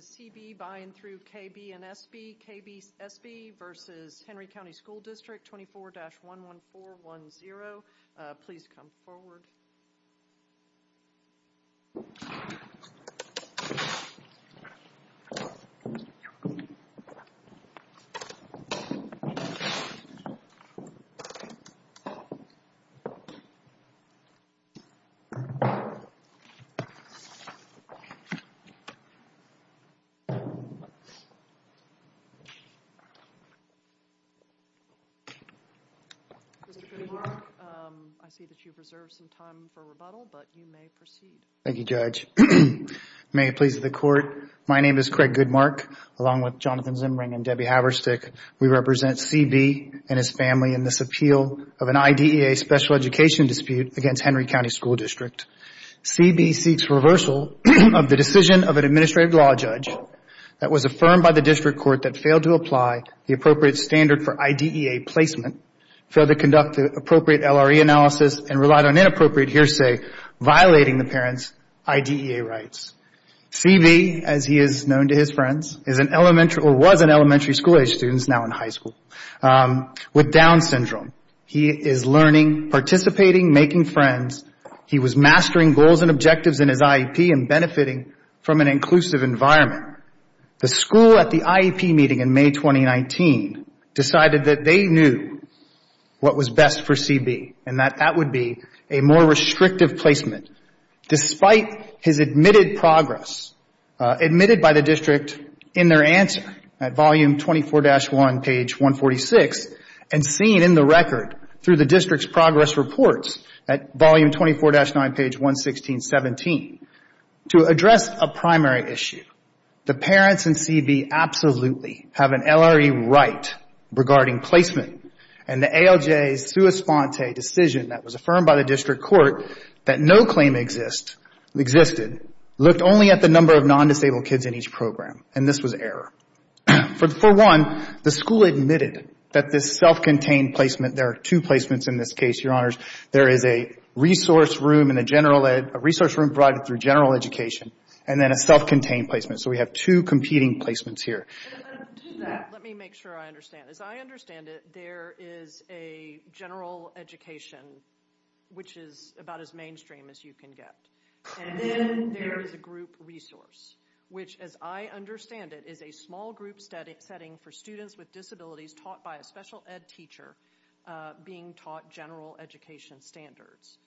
C.B. v. Henry County School District K.B. and S.B. K.B. S.B. v. Henry County School District 24-11410. Please come forward. Mr. Goodmark, I see that you've reserved some time for rebuttal, but you may proceed. Thank you, Judge. May it please the Court, my name is Craig Goodmark, along with Jonathan Zimring and Debbie Haverstick. We represent C.B. and his family in this appeal of an IDEA special education dispute against Henry County School District. C.B. seeks reversal of the decision of an administrative law judge that was affirmed by the district court that failed to apply the appropriate standard for IDEA placement, failed to conduct the appropriate LRE analysis, and relied on inappropriate hearsay, violating the parent's IDEA rights. C.B., as he is known to his friends, is an elementary, or was an elementary school age student, is now in high school, with Down syndrome. He is learning, participating, making friends. He was mastering goals and objectives in his IEP and benefiting from an inclusive environment. The school at the IEP meeting in May 2019 decided that they knew what was best for C.B., and that that would be a more restrictive placement. Despite his admitted progress, admitted by the district in their answer at volume 24-1, page 146, and seen in the record through the district's progress reports at volume 24-9, page 116-17, to address a primary issue, the parents in C.B. absolutely have an LRE right regarding placement, and the ALJ's sua sponte decision that was affirmed by the district court that no claim exists, existed, looked only at the number of non-disabled kids in each program, and this was error. For one, the school admitted that this self-contained placement, there are two placements in this case, Your Honors. There is a resource room and a general ed, a resource room provided through general education, and then a self-contained placement. So we have two competing placements here. Let me make sure I understand. As I understand it, there is a general education, which is about as mainstream as you can get, and then there is a group resource, which, as I understand it, is a small group setting for students with disabilities taught by a special ed teacher being taught general education standards,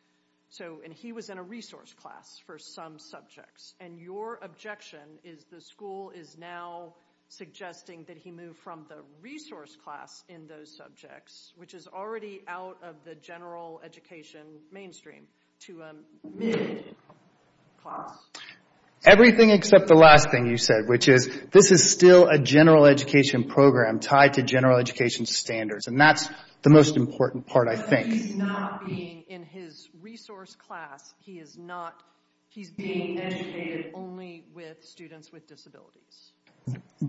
and he was in a resource class for some subjects, and your objection is the school is now suggesting that he move from the resource class in those subjects, which is already out of the general education mainstream, to a mid-class? Everything except the last thing you said, which is this is still a general education program tied to general education standards, and that's the most important part, I think. He's not being in his resource class. He's being educated only with students with disabilities.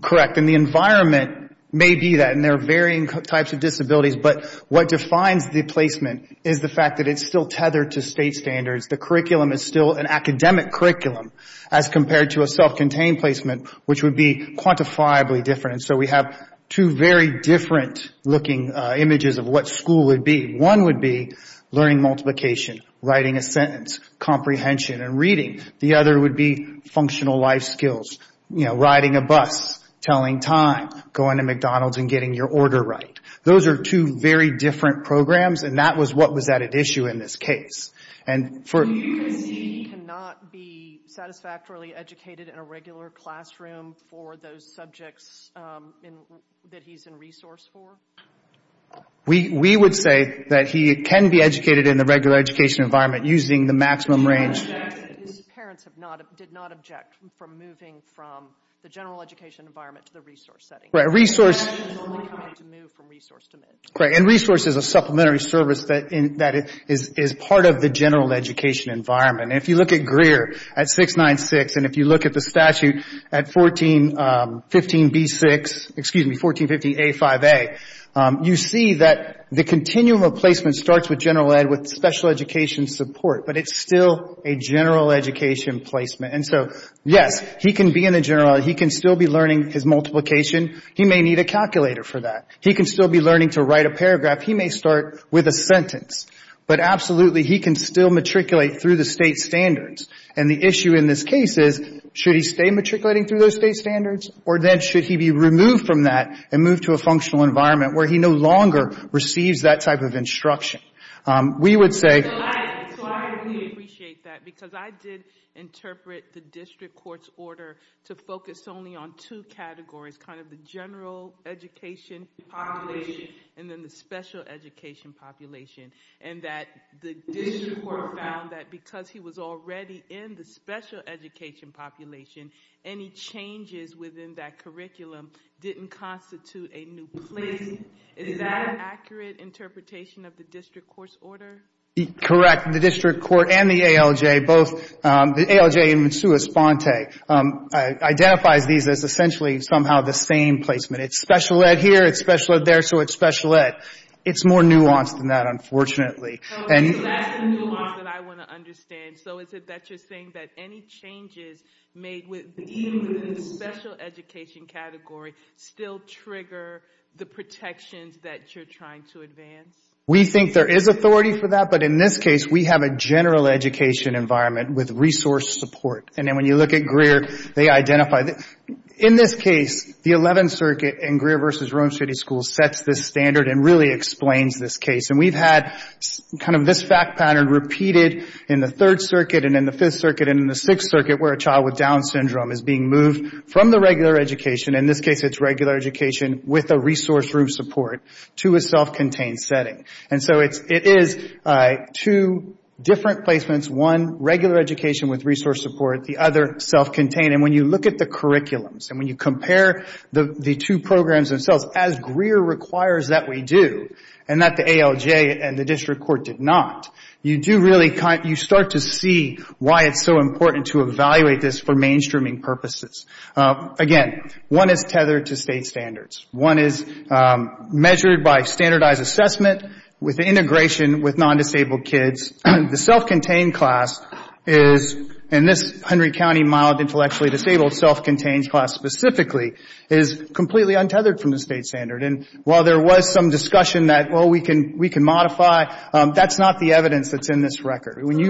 Correct, and the environment may be that, and there are varying types of disabilities, but what defines the placement is the fact that it's still tethered to state standards. The curriculum is still an academic curriculum as compared to a self-contained placement, which would be quantifiably different. We have two very different looking images of what school would be. One would be learning multiplication, writing a sentence, comprehension and reading. The other would be functional life skills, riding a bus, telling time, going to McDonald's and getting your order right. Those are two very different programs, and that was what was at issue in this case. Do you concede he cannot be satisfactorily educated in a regular classroom for those subjects that he's in resource for? We would say that he can be educated in the regular education environment using the maximum range. His parents did not object from moving from the general education environment to the resource setting. Resource is a supplementary service that is part of the general education environment. If you look at Greer at 696 and if you look at the statute at 1415B6, excuse me, 1415A5A, you see that the continuum of placement starts with general ed with special education support, but it's still a general education placement. And so, yes, he can be in the general, he can still be learning his multiplication. He may need a calculator for that. He can still be learning to write a paragraph. He may start with a sentence. But absolutely, he can still matriculate through the state standards. And the issue in this case is should he stay matriculating through those state standards or then should he be removed from that and move to a functional environment where he no longer receives that type of instruction? We would say... So I really appreciate that because I did interpret the district court's order to focus only on two categories, kind of the general education population and then the special education population, and that the district court found that because he was already in the special education population, any changes within that curriculum didn't constitute a new placement. Is that an accurate interpretation of the district court's order? Correct. The district court and the ALJ, both the ALJ and Monsua Sponte, identifies these as essentially somehow the same placement. It's special ed here, it's special ed there, so it's special ed. It's more nuanced than that, unfortunately. So that's the nuance that I want to understand. So is it that you're saying that any changes made even within the special education category still trigger the protections that you're trying to advance? We think there is authority for that, but in this case we have a general education environment with resource support. And then when you look at Greer, they identify that. In this case, the 11th Circuit and Greer v. Rome City Schools sets this standard and really explains this case. And we've had kind of this fact pattern repeated in the 3rd Circuit and in the 5th Circuit and in the 6th Circuit where a child with Down syndrome is being moved from the regular education. In this case, it's regular education with a resource room support to a self-contained setting. And so it is two different placements, one regular education with resource support, the other self-contained. And when you look at the curriculums and when you compare the two programs themselves, as Greer requires that we do and that the ALJ and the district court did not, you start to see why it's so important to evaluate this for mainstreaming purposes. Again, one is tethered to state standards. One is measured by standardized assessment with integration with non-disabled kids. The self-contained class is, in this Henry County mild intellectually disabled self-contained class specifically, is completely untethered from the state standard. And while there was some discussion that, oh, we can modify, that's not the evidence that's in this record. Let me ask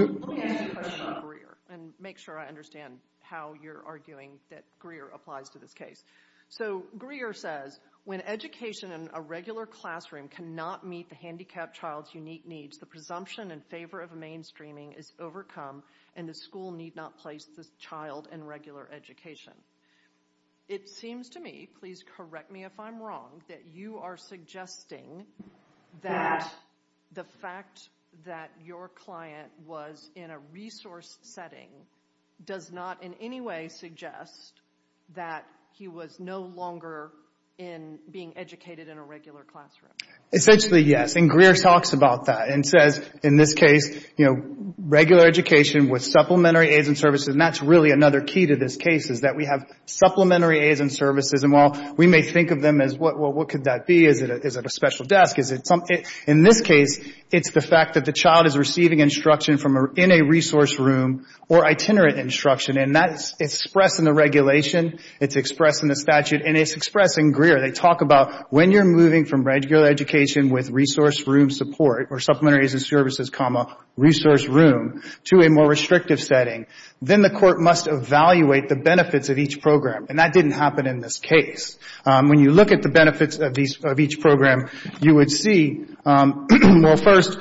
you a question about Greer and make sure I understand how you're arguing that Greer applies to this case. So Greer says, when education in a regular classroom cannot meet the handicapped child's unique needs, the presumption in favor of mainstreaming is overcome and the school need not place this child in regular education. It seems to me, please correct me if I'm wrong, that you are suggesting that the fact that your client was in a resource setting does not in any way suggest that he was no longer being educated in a regular classroom. Essentially, yes. And Greer talks about that and says, in this case, regular education with supplementary aids and services, and that's really another key to this case is that we have supplementary aids and services. And while we may think of them as, well, what could that be? Is it a special desk? In this case, it's the fact that the child is receiving instruction in a resource room or itinerant instruction. And that's expressed in the regulation. It's expressed in the statute. And it's expressed in Greer. They talk about when you're moving from regular education with resource room support or supplementary aids and services, comma, resource room, to a more restrictive setting, then the court must evaluate the benefits of each program. And that didn't happen in this case. When you look at the benefits of each program, you would see, well, first,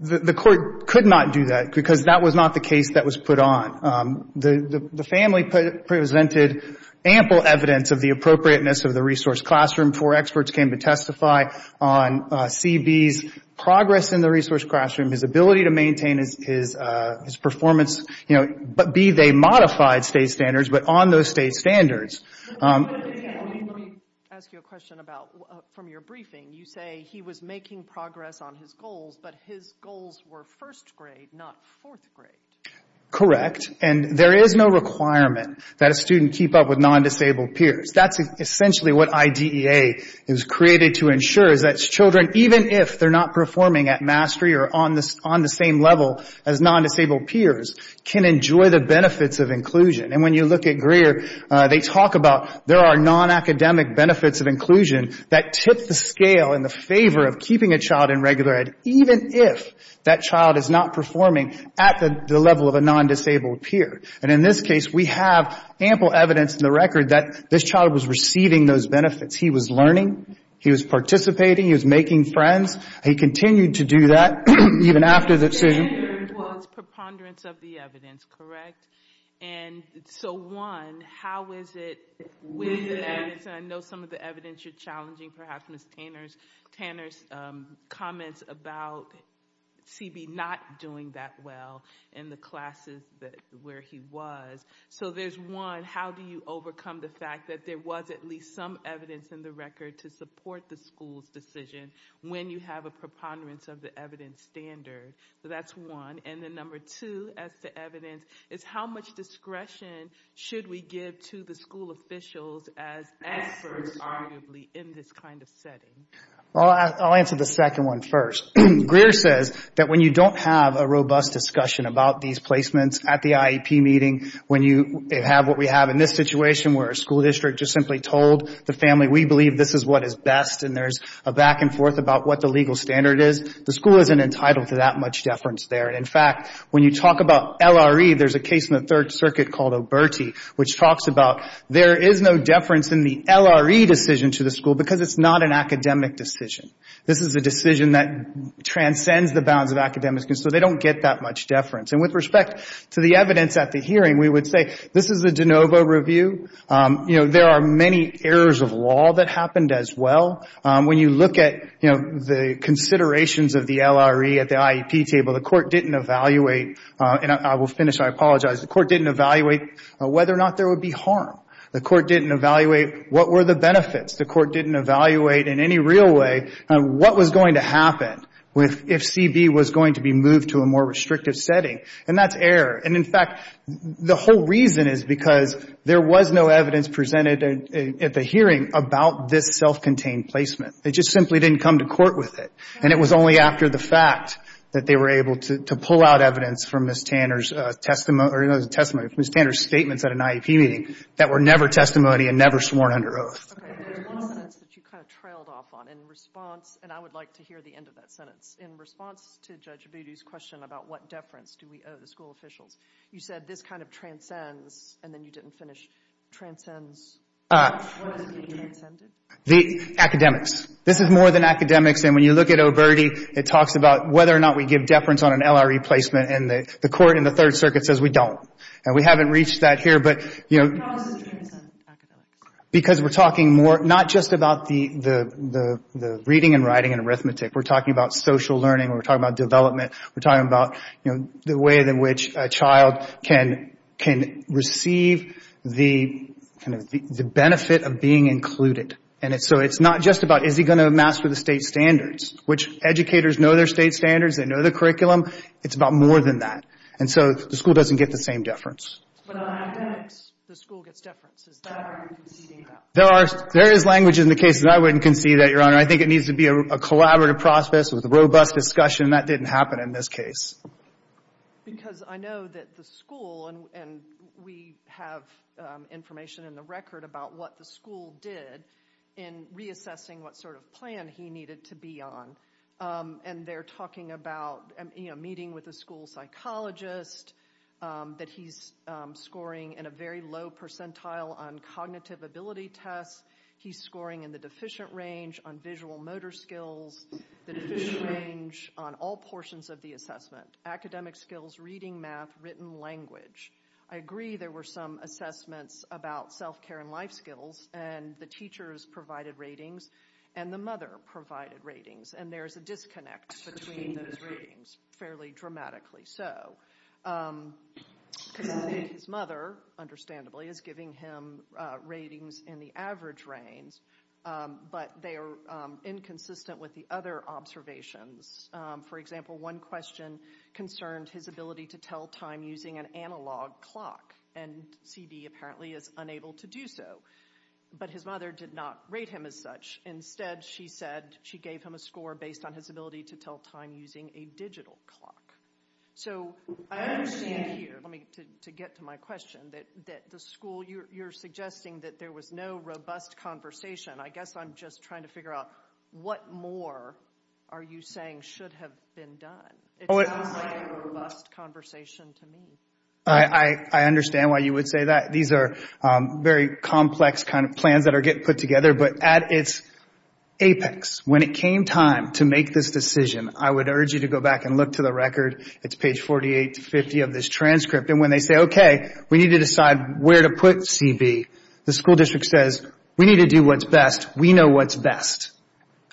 the court could not do that because that was not the case that was put on. The family presented ample evidence of the appropriateness of the resource classroom. Four experts came to testify on CB's progress in the resource classroom, his ability to maintain his performance, you know, be they modified state standards, but on those state standards. Let me ask you a question about from your briefing. You say he was making progress on his goals, but his goals were first grade, not fourth grade. Correct. And there is no requirement that a student keep up with non-disabled peers. That's essentially what IDEA was created to ensure is that children, even if they're not performing at mastery or on the same level as non-disabled peers, can enjoy the benefits of inclusion. And when you look at Greer, they talk about there are non-academic benefits of inclusion that tip the scale in the favor of keeping a child in regular ed, even if that child is not performing at the level of a non-disabled peer. And in this case, we have ample evidence in the record that this child was receiving those benefits. He was learning. He was participating. He was making friends. He continued to do that, even after the decision. Tanner's was preponderance of the evidence, correct? And so, one, how is it with the evidence? I know some of the evidence you're challenging perhaps Ms. Tanner's comments about CB not doing that well in the classes where he was. So there's one, how do you overcome the fact that there was at least some evidence in the record to support the school's decision when you have a preponderance of the evidence standard? So that's one. And then number two as to evidence is how much discretion should we give to the school officials as experts, arguably, in this kind of setting? I'll answer the second one first. Greer says that when you don't have a robust discussion about these placements at the IEP meeting, when you have what we have in this situation where a school district just simply told the family, we believe this is what is best, and there's a back and forth about what the legal standard is, the school isn't entitled to that much deference there. In fact, when you talk about LRE, there's a case in the Third Circuit called Oberti, which talks about there is no deference in the LRE decision to the school because it's not an academic decision. This is a decision that transcends the bounds of academic, so they don't get that much deference. And with respect to the evidence at the hearing, we would say this is a de novo review. You know, there are many errors of law that happened as well. When you look at, you know, the considerations of the LRE at the IEP table, the court didn't evaluate, and I will finish, I apologize, the court didn't evaluate whether or not there would be harm. The court didn't evaluate what were the benefits. The court didn't evaluate in any real way what was going to happen if CB was going to be moved to a more restrictive setting, and that's error. And in fact, the whole reason is because there was no evidence presented at the hearing about this self-contained placement. They just simply didn't come to court with it. And it was only after the fact that they were able to pull out evidence from Ms. Tanner's testimony or Ms. Tanner's statements at an IEP meeting that were never testimony and never sworn under oath. Okay, there's one sentence that you kind of trailed off on in response, and I would like to hear the end of that sentence. In response to Judge Abudu's question about what deference do we owe the school officials, you said this kind of transcends, and then you didn't finish, transcends. What is being transcended? The academics. This is more than academics, and when you look at Oberti, it talks about whether or not we give deference on an LRE placement, and the court in the Third Circuit says we don't. And we haven't reached that here, but, you know. How does this transcend academics? Because we're talking more, not just about the reading and writing and arithmetic. We're talking about social learning. We're talking about development. We're talking about, you know, the way in which a child can receive the benefit of being included. And so it's not just about is he going to master the state standards, which educators know their state standards. They know the curriculum. It's about more than that. And so the school doesn't get the same deference. But on academics, the school gets deference. Is that what you're conceding about? There is language in the case that I wouldn't concede that, Your Honor. I think it needs to be a collaborative process with robust discussion. That didn't happen in this case. Because I know that the school, and we have information in the record about what the school did in reassessing what sort of plan he needed to be on, and they're talking about meeting with a school psychologist, that he's scoring in a very low percentile on cognitive ability tests. He's scoring in the deficient range on visual motor skills, the deficient range on all portions of the assessment. Academic skills, reading, math, written language. I agree there were some assessments about self-care and life skills, and the teachers provided ratings, and the mother provided ratings. And there's a disconnect between those ratings, fairly dramatically so. Because his mother, understandably, is giving him ratings in the average range, but they are inconsistent with the other observations. For example, one question concerned his ability to tell time using an analog clock, and C.B. apparently is unable to do so. But his mother did not rate him as such. Instead, she said she gave him a score based on his ability to tell time using a digital clock. So I understand here, to get to my question, that the school, you're suggesting that there was no robust conversation. I guess I'm just trying to figure out what more are you saying should have been done? It sounds like a robust conversation to me. I understand why you would say that. These are very complex kind of plans that are getting put together, but at its apex, when it came time to make this decision, I would urge you to go back and look to the record. It's page 48 to 50 of this transcript. And when they say, okay, we need to decide where to put C.B., the school district says, we need to do what's best. We know what's best.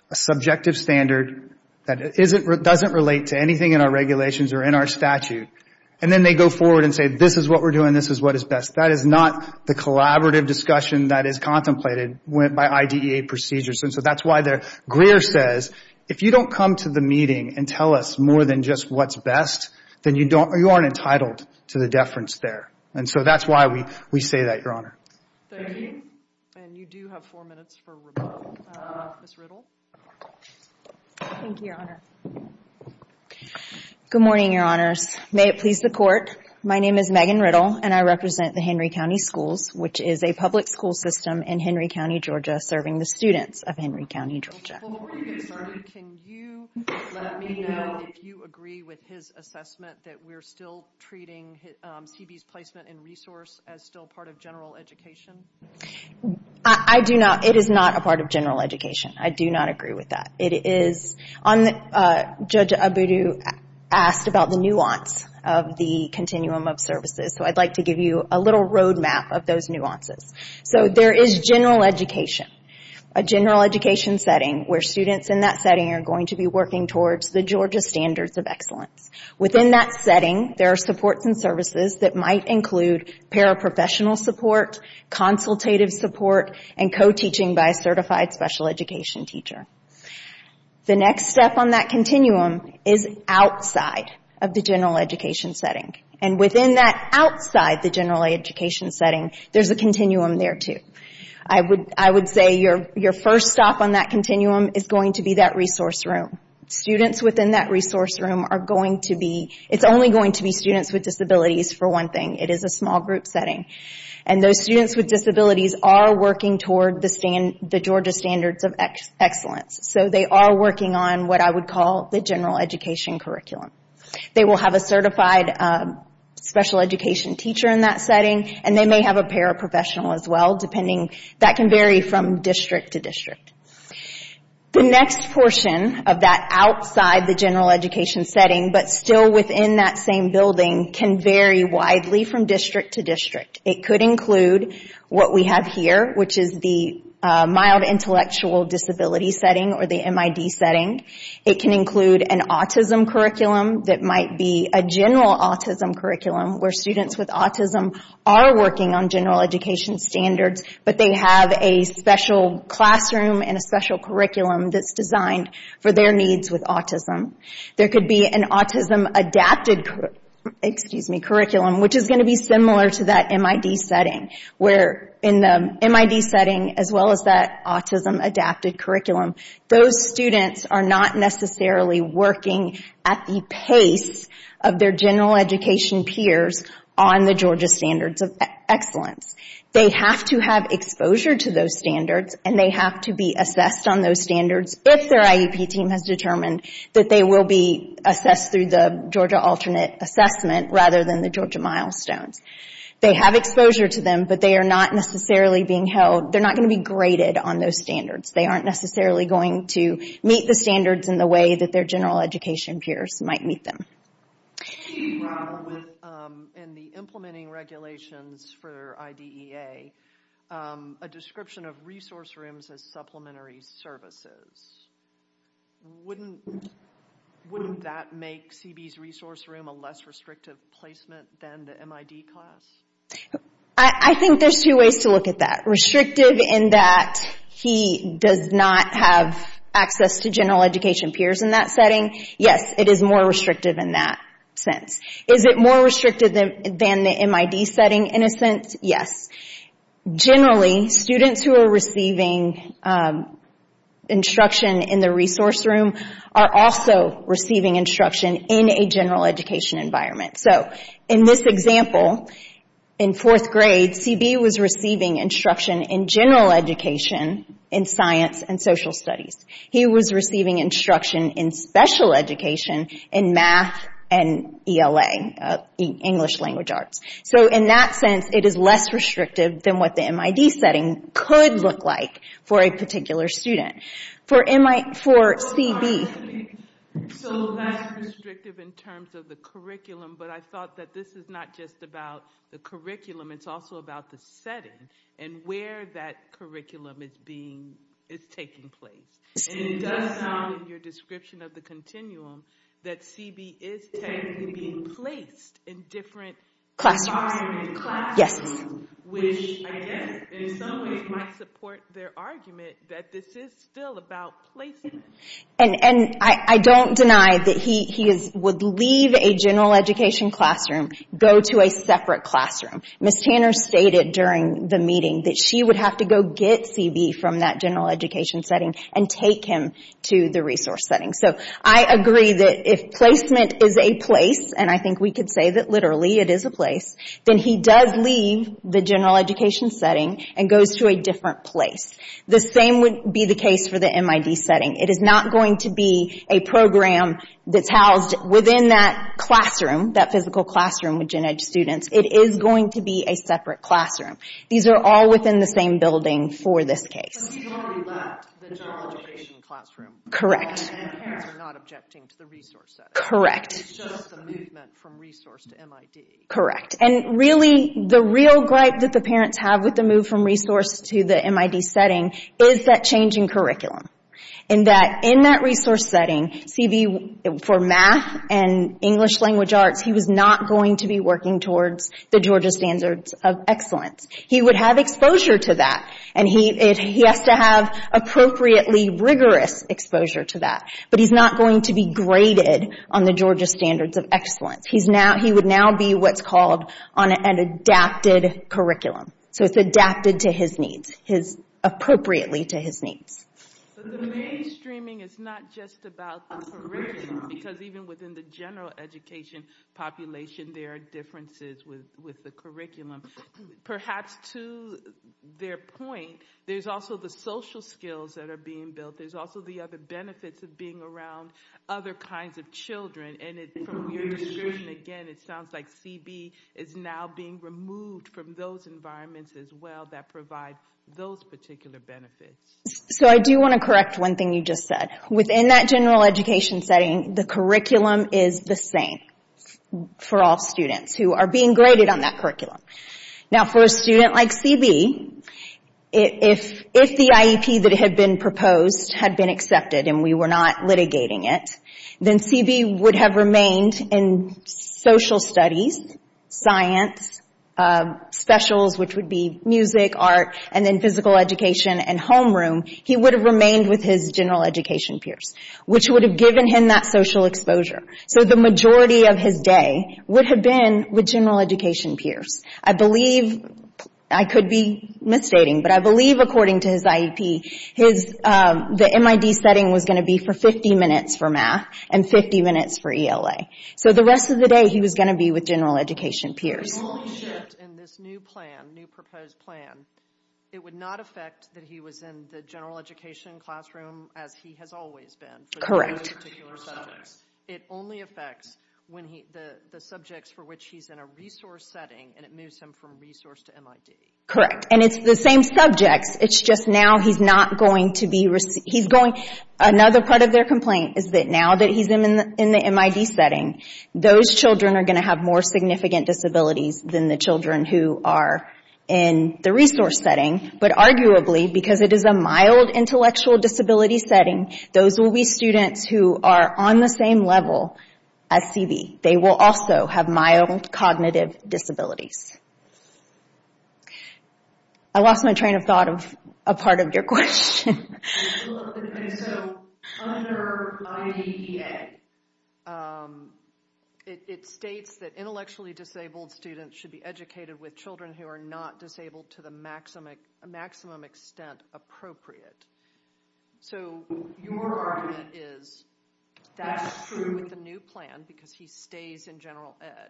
A subjective standard that doesn't relate to anything in our regulations or in our statute. And then they go forward and say, this is what we're doing, this is what is best. That is not the collaborative discussion that is contemplated by IDEA procedures. And so that's why Greer says, if you don't come to the meeting and tell us more than just what's best, then you aren't entitled to the deference there. And so that's why we say that, Your Honor. Thank you. And you do have four minutes for rebuttal. Ms. Riddle. Thank you, Your Honor. Good morning, Your Honors. May it please the Court. My name is Megan Riddle, and I represent the Henry County Schools, which is a public school system in Henry County, Georgia, serving the students of Henry County, Georgia. Before you get started, can you let me know if you agree with his assessment that we're still treating C.B.'s placement in resource as still part of general education? I do not. It is not a part of general education. I do not agree with that. Judge Abudu asked about the nuance of the continuum of services, so I'd like to give you a little roadmap of those nuances. So there is general education, a general education setting, where students in that setting are going to be working towards the Georgia Standards of Excellence. Within that setting, there are supports and services that might include paraprofessional support, consultative support, and co-teaching by a certified special education teacher. The next step on that continuum is outside of the general education setting, and within that outside the general education setting, there's a continuum there, too. I would say your first stop on that continuum is going to be that resource room. Students within that resource room are going to be— it's only going to be students with disabilities, for one thing. It is a small group setting. And those students with disabilities are working toward the Georgia Standards of Excellence. So they are working on what I would call the general education curriculum. They will have a certified special education teacher in that setting, and they may have a paraprofessional as well, depending—that can vary from district to district. The next portion of that outside the general education setting, but still within that same building, can vary widely from district to district. It could include what we have here, which is the mild intellectual disability setting, or the MID setting. It can include an autism curriculum that might be a general autism curriculum, where students with autism are working on general education standards, but they have a special classroom and a special curriculum that's designed for their needs with autism. There could be an autism-adapted curriculum, which is going to be similar to that MID setting, where in the MID setting, as well as that autism-adapted curriculum, those students are not necessarily working at the pace of their general education peers on the Georgia Standards of Excellence. They have to have exposure to those standards, and they have to be assessed on those standards if their IEP team has determined that they will be assessed through the Georgia Alternate Assessment rather than the Georgia Milestones. They have exposure to them, but they are not necessarily being held— they're not going to be graded on those standards. They aren't necessarily going to meet the standards in the way that their general education peers might meet them. She brought up, in the implementing regulations for IDEA, a description of resource rooms as supplementary services. Wouldn't that make CB's resource room a less restrictive placement than the MID class? I think there's two ways to look at that. Restrictive in that he does not have access to general education peers in that setting. Yes, it is more restrictive in that sense. Is it more restrictive than the MID setting in a sense? Yes. Generally, students who are receiving instruction in the resource room are also receiving instruction in a general education environment. In this example, in fourth grade, CB was receiving instruction in general education in science and social studies. He was receiving instruction in special education in math and ELA, English language arts. In that sense, it is less restrictive than what the MID setting could look like for a particular student. For CB— So that's restrictive in terms of the curriculum, but I thought that this is not just about the curriculum. It's also about the setting and where that curriculum is taking place. It does sound in your description of the continuum that CB is technically being placed in different classrooms. Which, I guess, in some ways might support their argument that this is still about placement. I don't deny that he would leave a general education classroom and go to a separate classroom. Ms. Tanner stated during the meeting that she would have to go get CB from that general education setting and take him to the resource setting. I agree that if placement is a place, and I think we could say that literally it is a place, then he does leave the general education setting and goes to a different place. The same would be the case for the MID setting. It is not going to be a program that's housed within that classroom, that physical classroom with Gen-Ed students. It is going to be a separate classroom. These are all within the same building for this case. Correct. Correct. Correct. Really, the real gripe that the parents have with the move from resource to the MID setting is that changing curriculum. In that resource setting, CB, for math and English language arts, he was not going to be working towards the Georgia Standards of Excellence. He would have exposure to that. He has to have appropriately rigorous exposure to that. But he's not going to be graded on the Georgia Standards of Excellence. He would now be what's called on an adapted curriculum. It's adapted to his needs, appropriately to his needs. The mainstreaming is not just about the curriculum, because even within the general education population, there are differences with the curriculum. Perhaps to their point, there's also the social skills that are being built. There's also the other benefits of being around other kinds of children. From your description, again, it sounds like CB is now being removed from those environments as well that provide those particular benefits. I do want to correct one thing you just said. Within that general education setting, the curriculum is the same for all students who are being graded on that curriculum. For a student like CB, if the IEP that had been proposed had been accepted and we were not litigating it, then CB would have remained in social studies, science, specials, which would be music, art, and then physical education and homeroom. He would have remained with his general education peers, which would have given him that social exposure. So the majority of his day would have been with general education peers. I could be misstating, but I believe, according to his IEP, the MID setting was going to be for 50 minutes for math and 50 minutes for ELA. So the rest of the day, he was going to be with general education peers. If he was only shipped in this new proposed plan, it would not affect that he was in the general education classroom as he has always been. Correct. It only affects the subjects for which he's in a resource setting, and it moves him from resource to MID. Correct, and it's the same subjects. It's just now he's not going to be received. Another part of their complaint is that now that he's in the MID setting, those children are going to have more significant disabilities than the children who are in the resource setting. But arguably, because it is a mild intellectual disability setting, those will be students who are on the same level as CB. They will also have mild cognitive disabilities. I lost my train of thought of a part of your question. So under IDEA, it states that intellectually disabled students should be educated with children who are not disabled to the maximum extent appropriate. So your argument is that's true with the new plan because he stays in general ed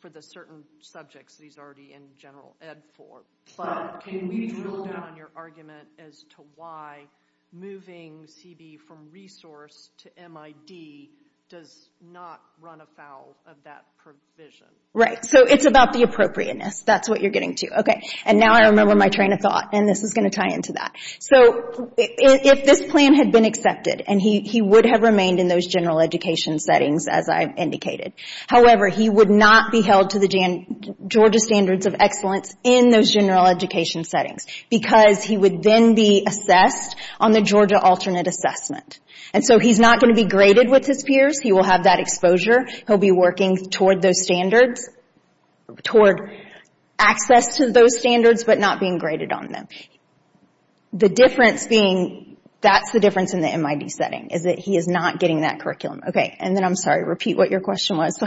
for the certain subjects that he's already in general ed for. But can we drill down on your argument as to why moving CB from resource to MID does not run afoul of that provision? Right, so it's about the appropriateness. That's what you're getting to. Okay, and now I remember my train of thought, and this is going to tie into that. So if this plan had been accepted and he would have remained in those general education settings, as I've indicated, however, he would not be held to the Georgia Standards of Excellence in those general education settings because he would then be assessed on the Georgia Alternate Assessment. And so he's not going to be graded with his peers. He will have that exposure. He'll be working toward those standards, toward access to those standards, but not being graded on them. That's the difference in the MID setting is that he is not getting that curriculum. Okay, and then I'm sorry, repeat what your question was. So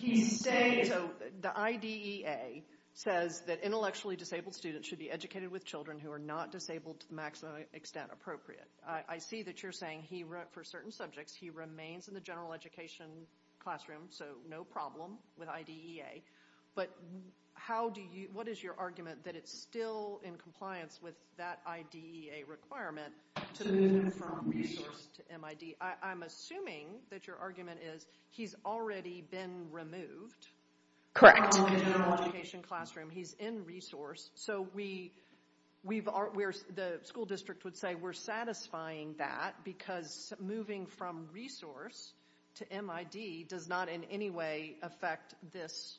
the IDEA says that intellectually disabled students should be educated with children who are not disabled to the maximum extent appropriate. I see that you're saying for certain subjects he remains in the general education classroom, so no problem with IDEA, but what is your argument that it's still in compliance with that IDEA requirement to move him from resource to MID? I'm assuming that your argument is he's already been removed from the general education classroom. He's in resource, so the school district would say we're satisfying that because moving from resource to MID does not in any way affect this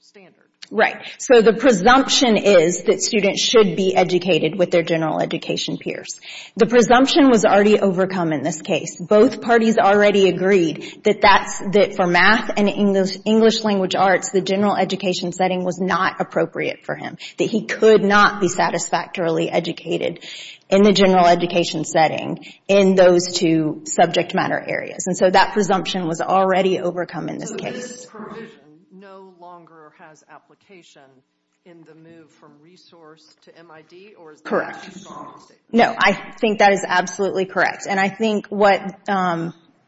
standard. Right, so the presumption is that students should be educated with their general education peers. The presumption was already overcome in this case. Both parties already agreed that for math and English language arts, the general education setting was not appropriate for him, that he could not be satisfactorily educated in the general education setting in those two subject matter areas. And so that presumption was already overcome in this case. So this provision no longer has application in the move from resource to MID, or is that just policy? Correct. No, I think that is absolutely correct. And I think what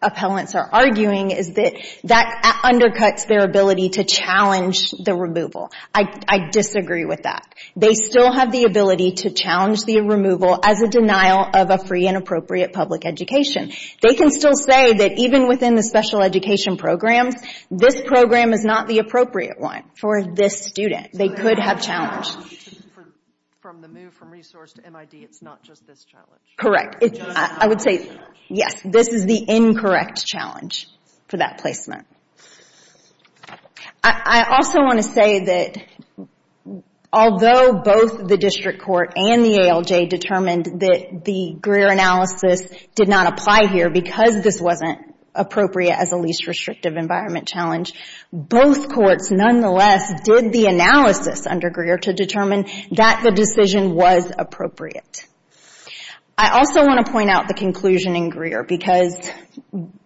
appellants are arguing is that that undercuts their ability to challenge the removal. I disagree with that. They still have the ability to challenge the removal as a denial of a free and appropriate public education. They can still say that even within the special education programs, this program is not the appropriate one for this student. They could have challenged. From the move from resource to MID, it's not just this challenge? Correct. I would say yes, this is the incorrect challenge for that placement. I also want to say that although both the district court and the ALJ determined that the Greer analysis did not apply here because this wasn't appropriate as a least restrictive environment challenge, both courts nonetheless did the analysis under Greer to determine that the decision was appropriate. I also want to point out the conclusion in Greer, because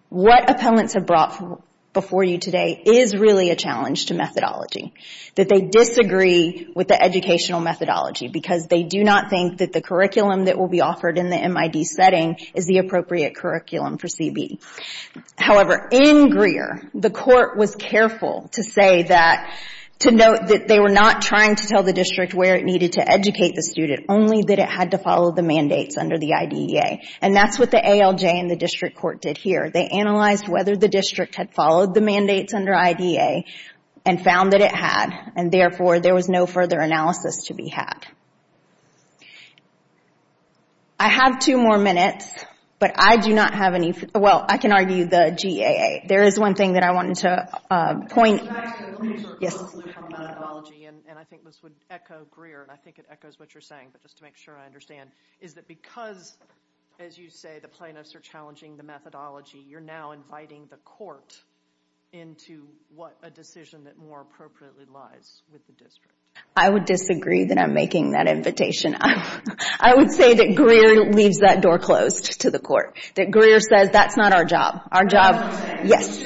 what appellants have brought before you today is really a challenge to methodology. That they disagree with the educational methodology because they do not think that the curriculum that will be offered in the MID setting is the appropriate curriculum for CB. However, in Greer, the court was careful to say that, to note that they were not trying to tell the district where it needed to educate the student, only that it had to follow the mandates under the IDEA, and that's what the ALJ and the district court did here. They analyzed whether the district had followed the mandates under IDEA and found that it had, and therefore there was no further analysis to be had. I have two more minutes, but I do not have any, well, I can argue the GAA. There is one thing that I wanted to point. Yes. And I think this would echo Greer, and I think it echoes what you're saying, but just to make sure I understand, is that because, as you say, the plaintiffs are challenging the methodology, you're now inviting the court into what a decision that more appropriately lies with the district. I would disagree that I'm making that invitation. I would say that Greer leaves that door closed to the court. That Greer says that's not our job. That's not our job. Yes.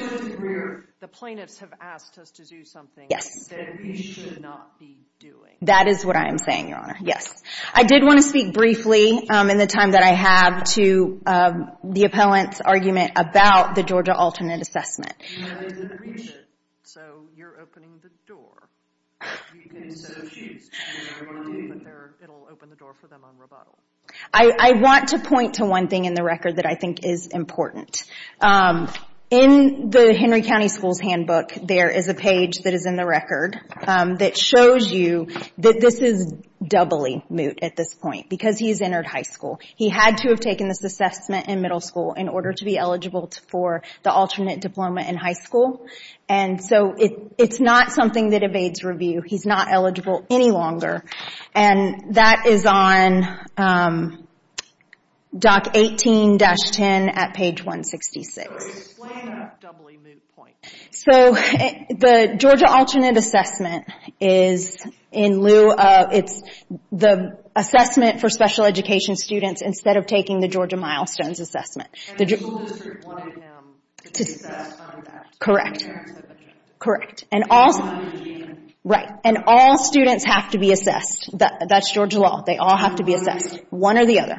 The plaintiffs have asked us to do something that we should not be doing. That is what I am saying, Your Honor. Yes. I did want to speak briefly in the time that I have to the appellant's argument about the Georgia alternate assessment. So you're opening the door. You can say she's changing her mind, but it will open the door for them on rebuttal. I want to point to one thing in the record that I think is important. In the Henry County Schools handbook, there is a page that is in the record that shows you that this is doubly moot at this point, because he's entered high school. He had to have taken this assessment in middle school in order to be eligible for the alternate diploma in high school. And so it's not something that evades review. He's not eligible any longer. And that is on DOC 18-10 at page 166. So explain that doubly moot point. So the Georgia alternate assessment is in lieu of the assessment for special education students instead of taking the Georgia milestones assessment. And the school district wanted him to be assessed on that. Correct. And all students have to be assessed. That's Georgia law. They all have to be assessed, one or the other.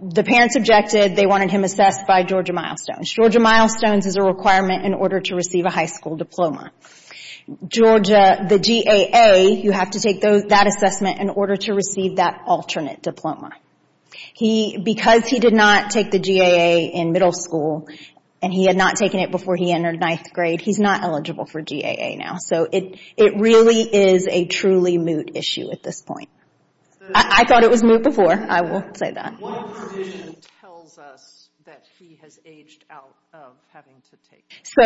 The parents objected. They wanted him assessed by Georgia milestones. Georgia milestones is a requirement in order to receive a high school diploma. The GAA, you have to take that assessment in order to receive that alternate diploma. Because he did not take the GAA in middle school, and he had not taken it before he entered ninth grade, he's not eligible for GAA now. So it really is a truly moot issue at this point. I thought it was moot before. I will say that. So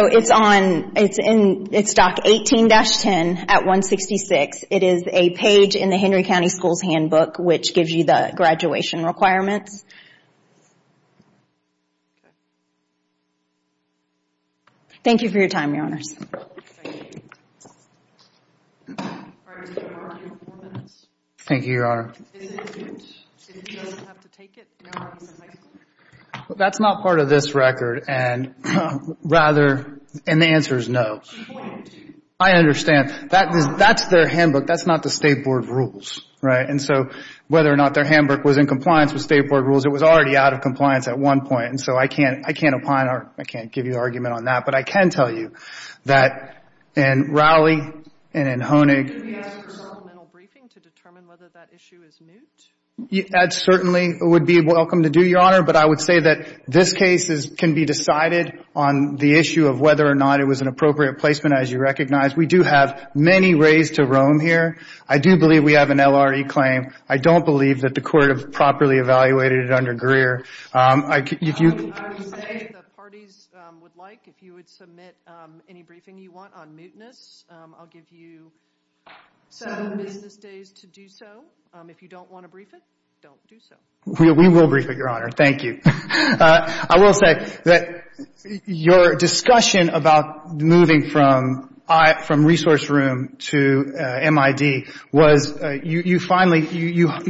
it's on DOC 18-10 at 166. It is a page in the Henry County Schools Handbook, which gives you the graduation requirements. Thank you for your time, Your Honors. Thank you. Thank you, Your Honor. That's not part of this record, and the answer is no. I understand. That's their handbook. That's not the State Board rules, right? And so whether or not their handbook was in compliance with State Board rules, it was already out of compliance at one point. And so I can't opine or I can't give you an argument on that. But I can tell you that in Rowley and in Hoenig That certainly would be welcome to do, Your Honor. But I would say that this case can be decided on the issue of whether or not it was an appropriate placement, as you recognize. We do have many ways to roam here. I do believe we have an LRE claim. I don't believe that the court have properly evaluated it under Greer. We will brief it, Your Honor. Thank you. I will say that your discussion about moving from resource room to MID was you finally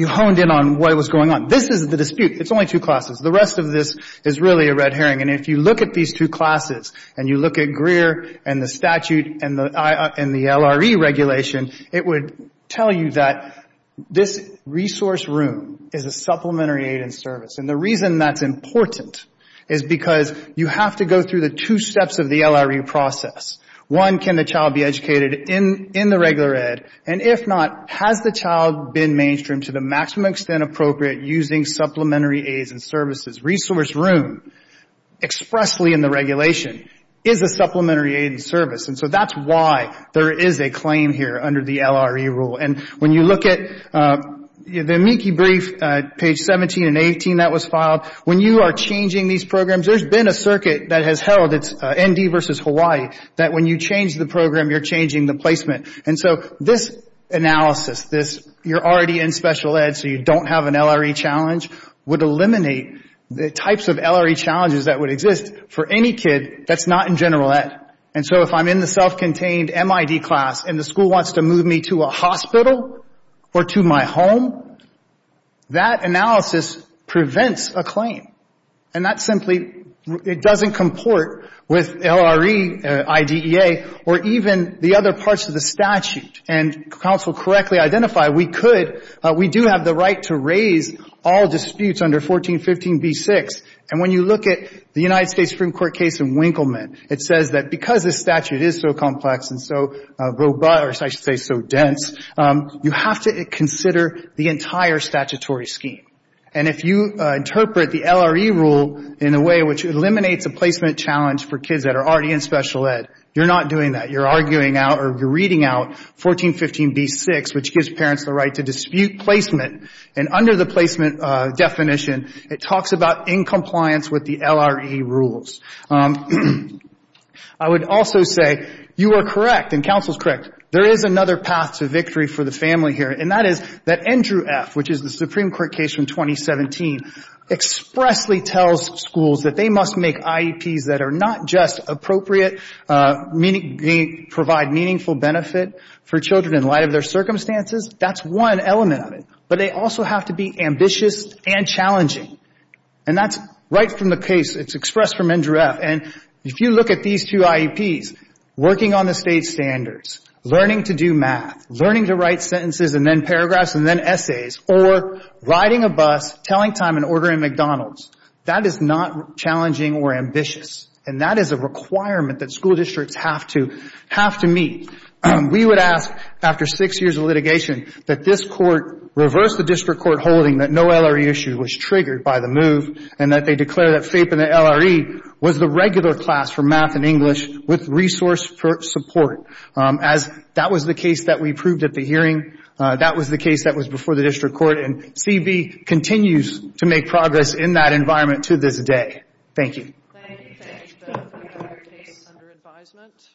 honed in on what was going on. This is the dispute. It's only two classes. The rest of this is really a red herring. And if you look at these two classes and you look at Greer and the statute and the LRE regulation, it would tell you that this resource room is a supplementary aid and service. And the reason that's important is because you have to go through the two steps of the LRE process. One, can the child be educated in the regular ed? And if not, has the child been mainstreamed to the maximum extent appropriate using supplementary aids and services? Resource room expressly in the regulation is a supplementary aid and service. And so that's why there is a claim here under the LRE rule. And when you look at the amici brief, page 17 and 18 that was filed, when you are changing these programs, there's been a circuit that has held, it's ND versus Hawaii, that when you change the program, you're changing the placement. And so this analysis, this you're already in special ed so you don't have an LRE challenge, would eliminate the types of LRE challenges that would exist for any kid that's not in general ed. And so if I'm in the self-contained MID class and the school wants to move me to a hospital or to my home, that analysis prevents a claim. And that simply, it doesn't comport with LRE, IDEA, or even the other parts of the statute. And counsel correctly identified we could, we do have the right to raise all disputes under 1415b6. And when you look at the United States Supreme Court case in Winkleman, it says that because this statute is so complex and so robust, or I should say so dense, you have to consider the entire statutory scheme. And if you interpret the LRE rule in a way which eliminates a placement challenge for kids that are already in special ed, you're not doing that. You're arguing out or you're reading out 1415b6, which gives parents the right to dispute placement. And under the placement definition, it talks about in compliance with the LRE rules. I would also say you are correct, and counsel's correct, there is another path to victory for the family here, and that is that Andrew F., which is the Supreme Court case from 2017, expressly tells schools that they must make IEPs that are not just appropriate, provide meaningful benefit for children in light of their circumstances. That's one element of it. But they also have to be ambitious and challenging. And that's right from the case. It's expressed from Andrew F. And if you look at these two IEPs, working on the state standards, learning to do math, learning to write sentences and then paragraphs and then essays, or riding a bus, telling time and ordering McDonald's, that is not challenging or ambitious. And that is a requirement that school districts have to meet. We would ask, after six years of litigation, that this Court reverse the district court holding that no LRE issue was triggered by the move and that they declare that FAPE and the LRE was the regular class for math and English with resource support. As that was the case that we proved at the hearing, that was the case that was before the district court, and CB continues to make progress in that environment to this day. Thank you. Thank you. Thank you. Thank you. That is the end of our case under advisement.